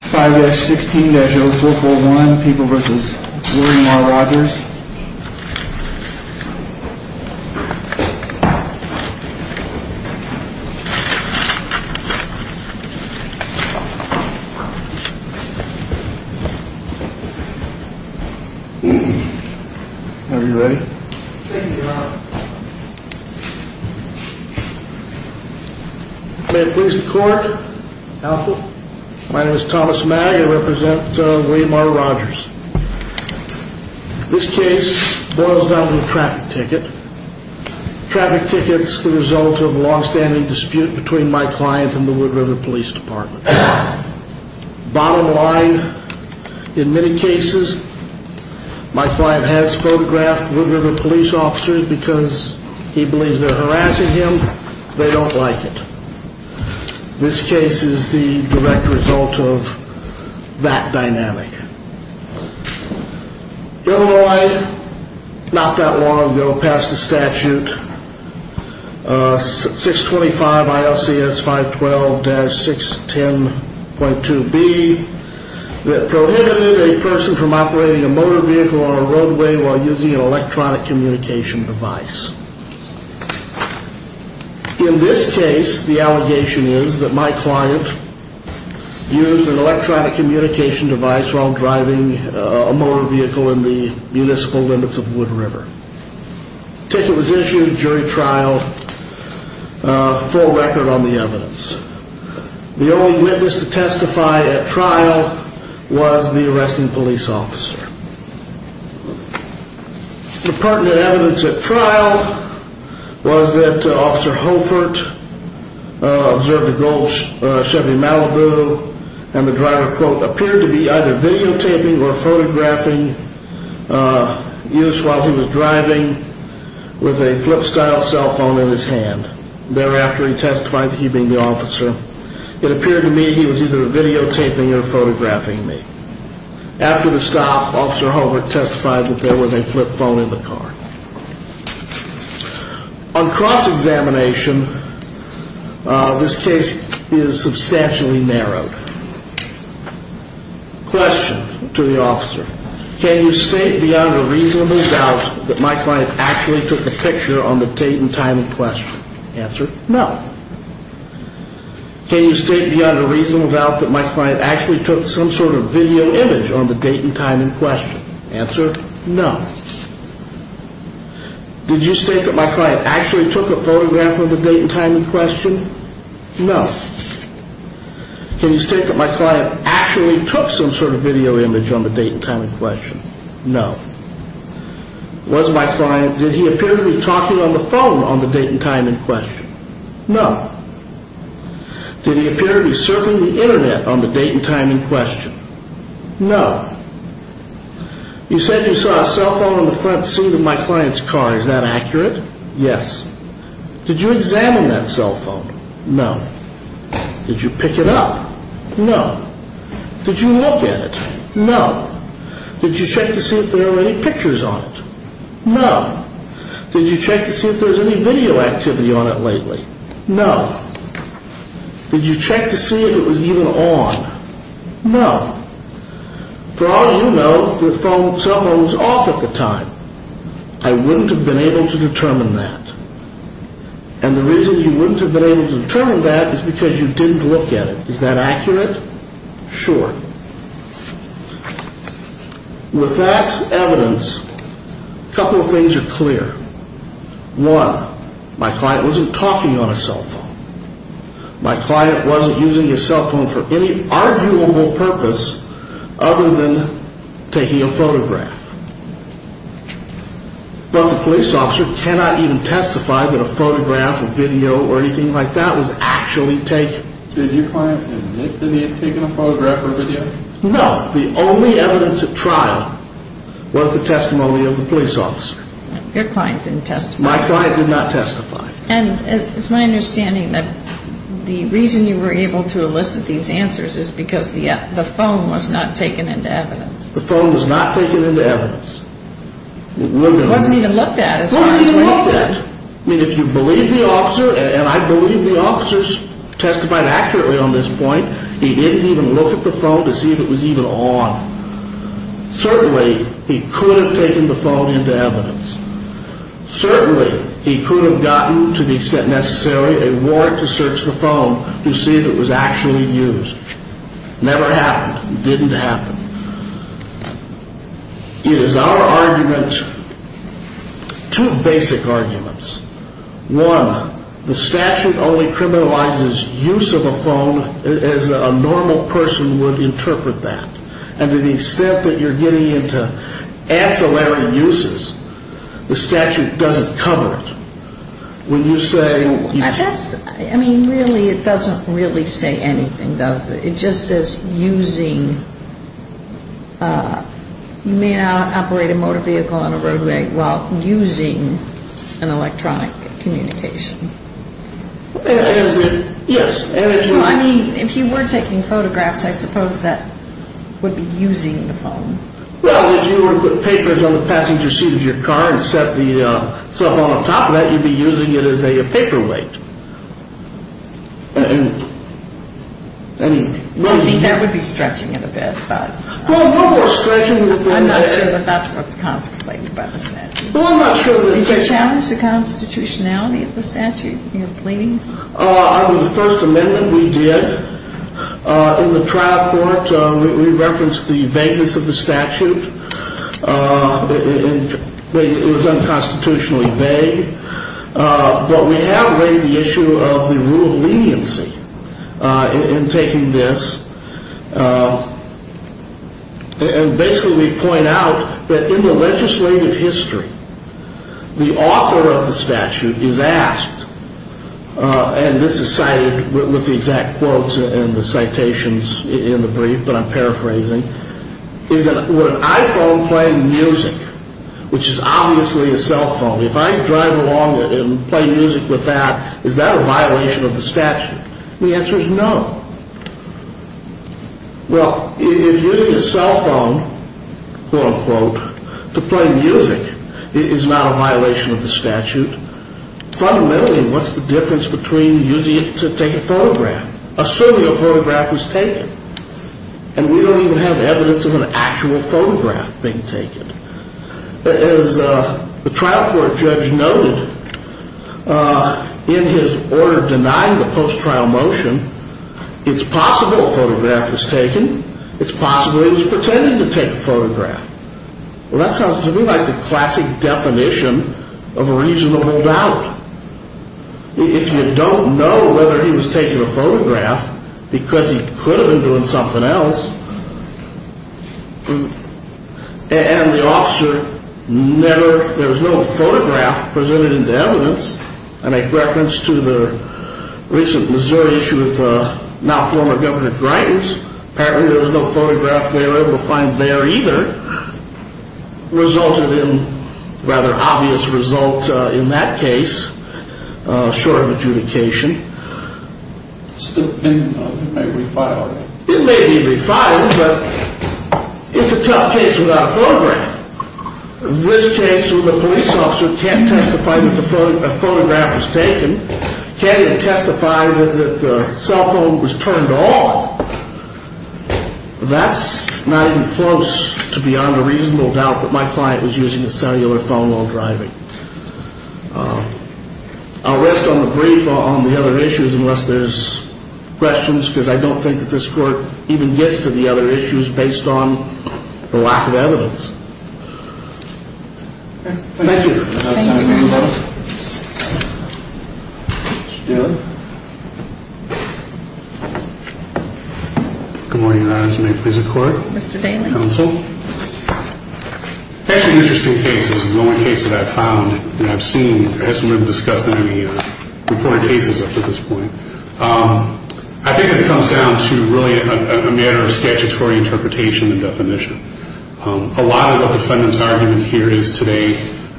5-16-0441 People v. William R. Rogers Are we ready? I am Thomas Magg. I represent William R. Rogers. This case boils down to a traffic ticket. Traffic tickets are the result of a long-standing dispute between my client and the Wood River Police Department. Bottom line, in many cases my client has photographed Wood River Police officers because he believes they are harassing him. They don't like it. This case is the direct result of that dynamic. Illinois, not that long ago, passed a statute, 625 ILCS 512-610.2b, that prohibited a person from operating a motor vehicle on a roadway while using an electronic communication device. In this case, the allegation is that my client used an electronic communication device while driving a motor vehicle in the municipal limits of Wood River. The ticket was issued, jury trialed, full record on the evidence. The only witness to testify at trial was the arresting police officer. The pertinent evidence at trial was that Officer Holford observed a gold Chevy Malibu, and the driver, quote, appeared to be either videotaping or photographing used while he was driving with a flip-style cell phone in his hand. Thereafter, he testified that he being the officer, it appeared to me he was either videotaping or photographing me. After the stop, Officer Holford testified that there was a flip phone in the car. On cross-examination, this case is substantially narrowed. Question to the officer. Can you state beyond a reasonable doubt that my client actually took a picture on the date and time in question? Answer no. Can you state beyond a reasonable doubt that my client actually took some sort of video image on the date and time in question? Answer no. Did you state that my client actually took a photograph of the date and time in question? No. Can you state that my client actually took some sort of video image on the date and time in question? No. Was my client, did he appear to be talking on the phone on the date and time in question? No. Did he appear to be surfing the internet on the date and time in question? No. You said you saw a cell phone on the front seat of my client's car, is that accurate? Yes. Did you examine that cell phone? No. Did you pick it up? No. Did you look at it? No. Did you check to see if there were any pictures on it? No. Did you check to see if there was any video activity on it lately? No. Did you check to see if it was even on? No. For all you know, the cell phone was off at the time. I wouldn't have been able to determine that. And the reason you wouldn't have been able to determine that is because you didn't look at it. Is that accurate? Sure. With that evidence, a couple of things are clear. One, my client wasn't talking on a cell phone. My client wasn't using a cell phone for any arguable purpose other than taking a photograph. But the police officer cannot even testify that a photograph or video or anything like that was actually taken. Did your client admit that he had taken a photograph or video? No. The only evidence at trial was the testimony of the police officer. Your client didn't testify. My client did not testify. And it's my understanding that the reason you were able to elicit these answers is because the phone was not taken into evidence. The phone was not taken into evidence. It wasn't even looked at. It wasn't even looked at. I mean, if you believe the officer, and I believe the officer testified accurately on this point, he didn't even look at the phone to see if it was even on. Certainly, he could have taken the phone into evidence. Certainly, he could have gotten, to the extent necessary, a warrant to search the phone to see if it was actually used. Never happened. Didn't happen. It is our argument, two basic arguments. One, the statute only criminalizes use of a phone as a normal person would interpret that. And to the extent that you're getting into ancillary uses, the statute doesn't cover it. I mean, really, it doesn't really say anything, does it? It just says using, you may not operate a motor vehicle on a roadway while using an electronic communication. Yes. So, I mean, if you were taking photographs, I suppose that would be using the phone. Well, if you were to put papers on the passenger seat of your car and set the cell phone on top of that, you'd be using it as a paperweight. I think that would be stretching it a bit. Well, no more stretching. I'm not sure that that's what's contemplated by the statute. Well, I'm not sure. Did you challenge the constitutionality of the statute in your pleadings? Under the First Amendment, we did. In the trial court, we referenced the vagueness of the statute. It was unconstitutionally vague. But we have raised the issue of the rule of leniency in taking this. And basically, we point out that in the legislative history, the author of the statute is asked, and this is cited with the exact quotes and the citations in the brief that I'm paraphrasing, would an iPhone play music, which is obviously a cell phone? If I drive along and play music with that, is that a violation of the statute? The answer is no. Well, if using a cell phone, quote-unquote, to play music is not a violation of the statute, fundamentally, what's the difference between using it to take a photograph, assuming a photograph was taken? And we don't even have evidence of an actual photograph being taken. As the trial court judge noted, in his order denying the post-trial motion, it's possible a photograph was taken. It's possible he was pretending to take a photograph. Well, that sounds to me like the classic definition of a reasonable doubt. If you don't know whether he was taking a photograph because he could have been doing something else, and the officer never, there was no photograph presented into evidence, I make reference to the recent Missouri issue with the now former Governor Gritens. Apparently there was no photograph there, able to find there either. Resulted in a rather obvious result in that case, short of adjudication. It may be refiled. It may be refiled, but it's a tough case without a photograph. This case where the police officer can't testify that a photograph was taken, can't even testify that the cell phone was turned off, that's not even close to beyond a reasonable doubt that my client was using a cellular phone while driving. I'll rest on the brief on the other issues unless there's questions, because I don't think that this Court even gets to the other issues based on the lack of evidence. Thank you. Thank you, Your Honor. Good morning, Your Honor. This is the court. Mr. Daly. Counsel. Actually an interesting case. This is the only case that I've found that I've seen that hasn't really discussed in any of the reported cases up to this point. I think it comes down to really a matter of statutory interpretation and definition. A lot of what the defendant's argument here is today,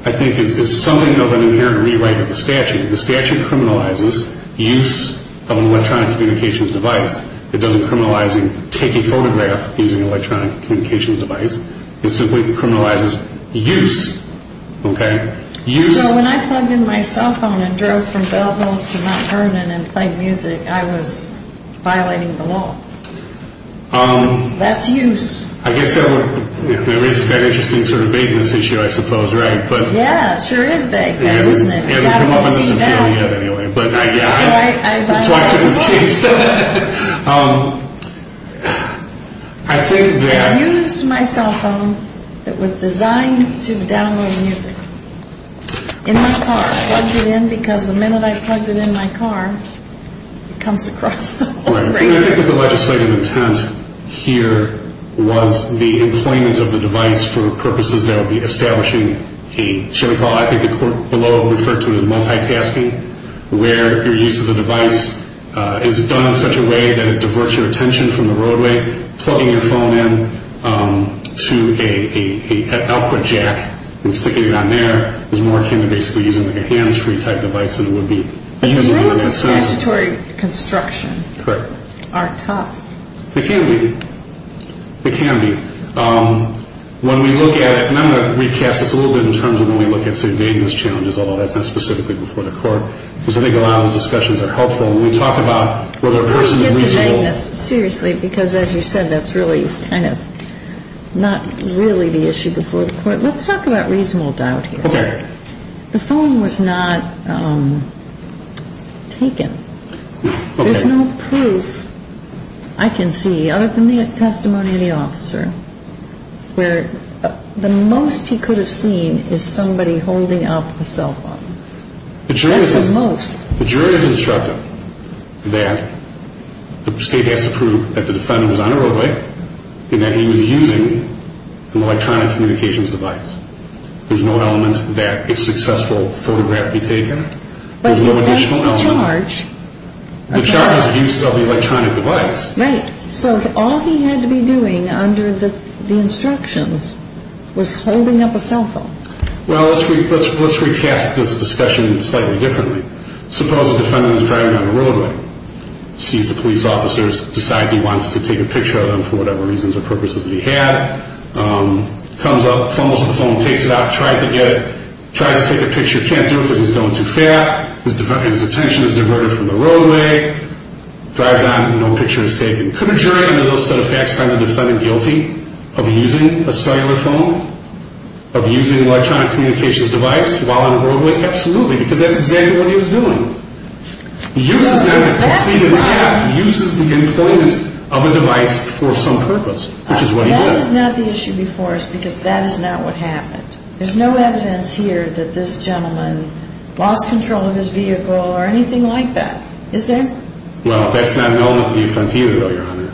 I think, is something of an inherent rewrite of the statute. The statute criminalizes use of an electronic communications device. It doesn't criminalize taking a photograph using an electronic communications device. It simply criminalizes use, okay? So when I plugged in my cell phone and drove from Belleville to Mount Vernon and played music, I was violating the law. That's use. I guess that raises that interesting sort of vagueness issue, I suppose, right? Yeah, it sure is vagueness, isn't it? It hasn't come up on this appeal yet, anyway. So I violated the law. I think that... I used my cell phone that was designed to download music in my car. I plugged it in because the minute I plugged it in my car, it comes across the whole thing. I think that the legislative intent here was the employment of the device for purposes that would be establishing a sharing call. I think the court below referred to it as multitasking, where your use of the device is done in such a way that it diverts your attention from the roadway. Plugging your phone in to an output jack and sticking it on there is more akin to basically using, like, a hands-free type device than it would be. The rules of statutory construction aren't tough. They can be. They can be. When we look at it, and I'm going to recast this a little bit in terms of when we look at, say, vagueness challenges, although that's not specifically before the court, because I think a lot of those discussions are helpful. When we talk about whether a person is reasonable... Let's get to vagueness, seriously, because as you said, that's really kind of not really the issue before the court. Let's talk about reasonable doubt here. Okay. The phone was not taken. Okay. There's no proof I can see, other than the testimony of the officer, where the most he could have seen is somebody holding up a cell phone. That's the most. The jury has instructed that the State has to prove that the defendant was on a roadway and that he was using an electronic communications device. There's no element that a successful photograph be taken. There's no additional element. But he makes the charge. The charge is the use of the electronic device. Right. So all he had to be doing under the instructions was holding up a cell phone. Well, let's recast this discussion slightly differently. Suppose the defendant is driving down the roadway, sees the police officers, decides he wants to take a picture of them for whatever reasons or purposes he had, comes up, fumbles with the phone, takes it out, tries to get it, tries to take a picture. Can't do it because he's going too fast. His attention is diverted from the roadway. Drives on. No picture is taken. Could a jury under those set of facts find the defendant guilty of using a cellular phone, of using an electronic communications device while on the roadway? Absolutely, because that's exactly what he was doing. He uses them to complete a task. He uses the employment of a device for some purpose, which is what he did. That is not the issue before us because that is not what happened. There's no evidence here that this gentleman lost control of his vehicle or anything like that. Is there? Well, that's not an element of the offense either, Your Honor.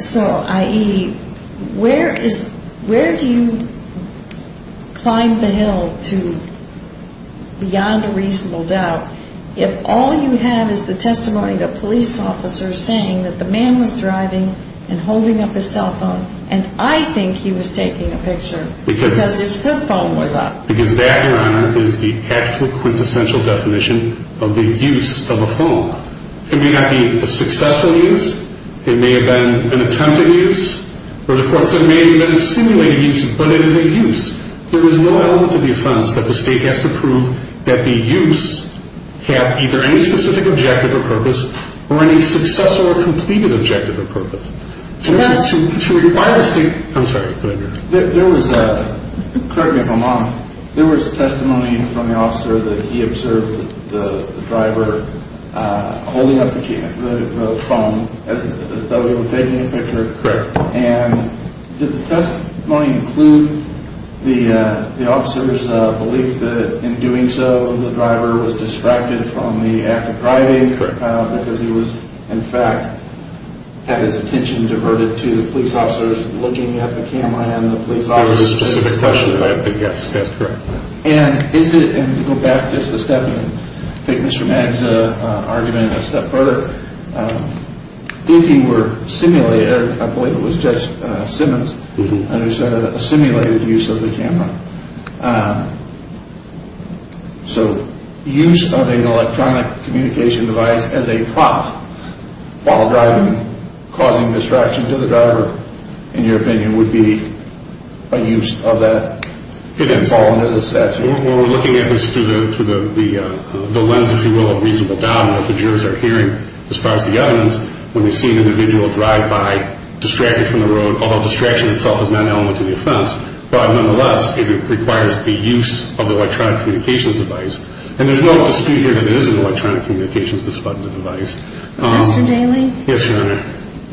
So, i.e., where do you climb the hill to beyond a reasonable doubt if all you have is the testimony of police officers saying that the man was driving and holding up his cell phone, and I think he was taking a picture because his phone was up? Because that, Your Honor, is the actual quintessential definition of the use of a phone. It may not be a successful use, it may have been an attempted use, or the court said it may have been a simulated use, but it is a use. There is no element of the offense that the State has to prove that the use had either any specific objective or purpose or any successful or completed objective or purpose. To require the State, I'm sorry, go ahead, Your Honor. There was, correct me if I'm wrong, there was testimony from the officer that he observed the driver holding up the phone as though he were taking a picture. Correct. And did the testimony include the officer's belief that in doing so, the driver was distracted from the act of driving? Correct. Because he was, in fact, had his attention diverted to the police officers looking at the camera and the police officers... It was a specific question, but yes, that's correct. And to go back just a step and take Mr. Magza's argument a step further, if he were simulated, I believe it was Judge Simmons who said a simulated use of the camera, so use of an electronic communication device as a prop while driving, causing distraction to the driver, in your opinion, would be a use of that? It would fall under the statute. We're looking at this through the lens, if you will, of reasonable doubt that the jurors are hearing as far as the evidence. When we see an individual drive by distracted from the road, although distraction itself is not an element to the offense, but nonetheless it requires the use of electronic communications device. And there's no dispute here that it is an electronic communications device. Mr. Daley? Yes, Your Honor.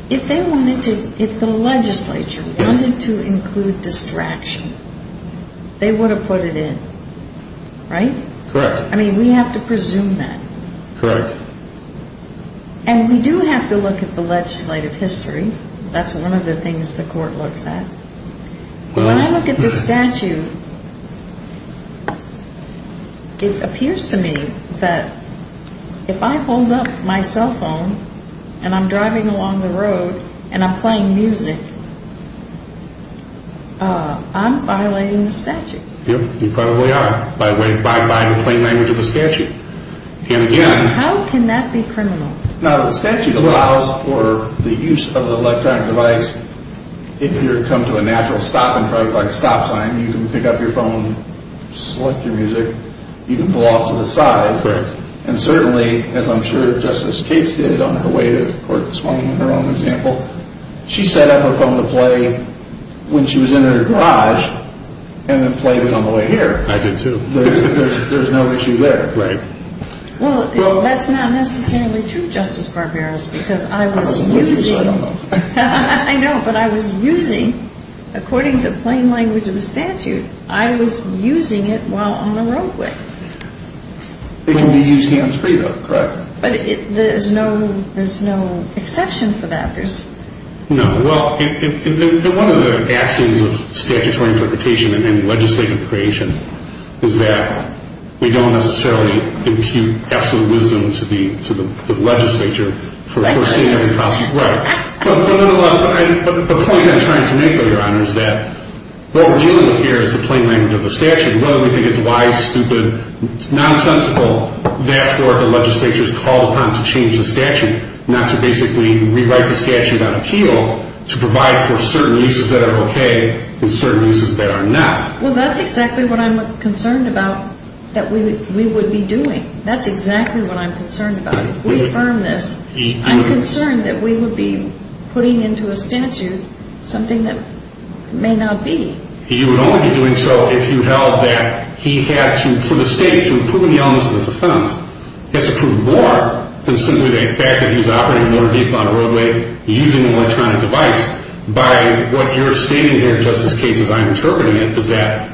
If the legislature wanted to include distraction, they would have put it in, right? Correct. I mean, we have to presume that. Correct. And we do have to look at the legislative history. That's one of the things the court looks at. When I look at the statute, it appears to me that if I hold up my cell phone and I'm driving along the road and I'm playing music, I'm violating the statute. Yes, you probably are by way of plain language of the statute. And again. How can that be criminal? Now, the statute allows for the use of electronic device. If you come to a natural stop, in fact, like a stop sign, you can pick up your phone, select your music, you can pull off to the side. Correct. And certainly, as I'm sure Justice Cates did on her way to court this morning in her own example, she set up her phone to play when she was in her garage and the play went on the way here. I did too. There's no issue there. Right. Well, that's not necessarily true, Justice Barberos, because I was using. I don't know. I know, but I was using, according to plain language of the statute, I was using it while on the roadway. It can be used hands-free, though, correct? But there's no exception for that. No. Well, one of the axioms of statutory interpretation and legislative creation is that we don't necessarily impute absolute wisdom to the legislature. Right. Right. But the point I'm trying to make, Your Honor, is that what we're dealing with here is the plain language of the statute. Whether we think it's wise, stupid, nonsensical, that's what the legislature is called upon to change the statute, not to basically rewrite the statute on appeal to provide for certain leases that are okay and certain leases that are not. Well, that's exactly what I'm concerned about that we would be doing. That's exactly what I'm concerned about. If we affirm this, I'm concerned that we would be putting into a statute something that may not be. You would only be doing so if you held that he had to, for the state, to improve the elements of his offense. He has to prove more than simply the fact that he was operating a motor vehicle on the roadway using an electronic device. By what you're stating here, Justice Cates, as I'm interpreting it, is that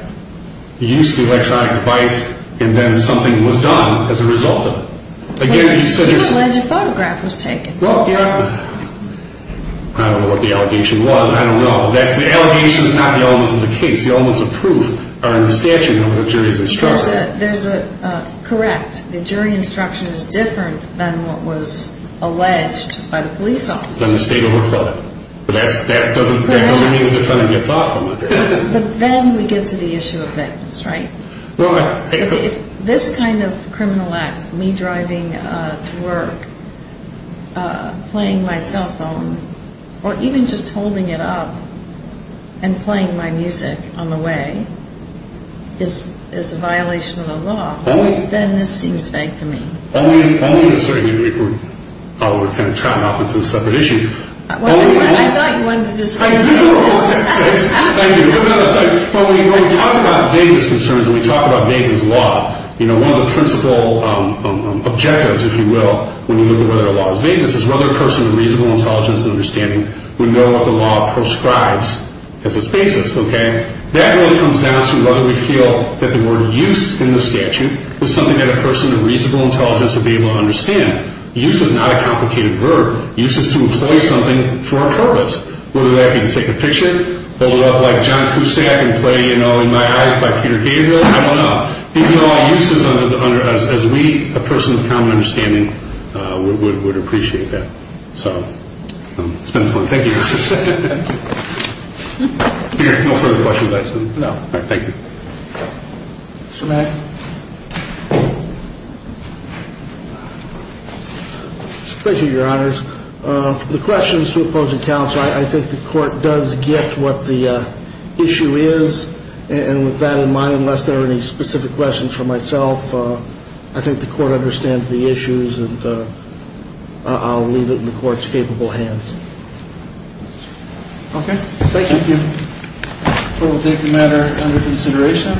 he used the electronic device and then something was done as a result of it. Again, you said there's... He was alleged a photograph was taken. Well, Your Honor, I don't know what the allegation was. I don't know. The allegation is not the elements of the case. The elements of proof are in the statute over the jury's instruction. There's a... correct. The jury instruction is different than what was alleged by the police officers. Then the state overplayed it. But that doesn't mean the defendant gets off on it. But then we get to the issue of victims, right? Right. If this kind of criminal act, me driving to work, playing my cell phone, or even just holding it up and playing my music on the way, is a violation of the law, then this seems vague to me. Only to a certain degree. We're kind of trotting off into a separate issue. I thought you wanted to discuss... I do. Thank you. When we talk about vagueness concerns, when we talk about vagueness law, one of the principal objectives, if you will, when you look at whether a law is vagueness, is whether a person with reasonable intelligence and understanding would know what the law prescribes as its basis. That really comes down to whether we feel that the word use in the statute was something that a person with reasonable intelligence would be able to understand. Use is not a complicated verb. Use is to employ something for a purpose. Whether that be to take a picture, hold it up like John Cusack, and play, you know, In My Eyes by Peter Gabriel. I don't know. These are all uses as we, a person with common understanding, would appreciate that. So it's been fun. Thank you. No further questions, I assume? No. All right. Thank you. Mr. Mack. Thank you, Your Honors. The question is to opposing counsel. I think the Court does get what the issue is. And with that in mind, unless there are any specific questions for myself, I think the Court understands the issues, and I'll leave it in the Court's capable hands. Okay. Thank you. Thank you. We'll take the matter under consideration,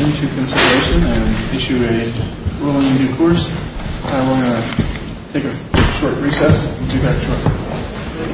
into consideration, and issue a ruling in due course. And we're going to take a short recess and do that shortly.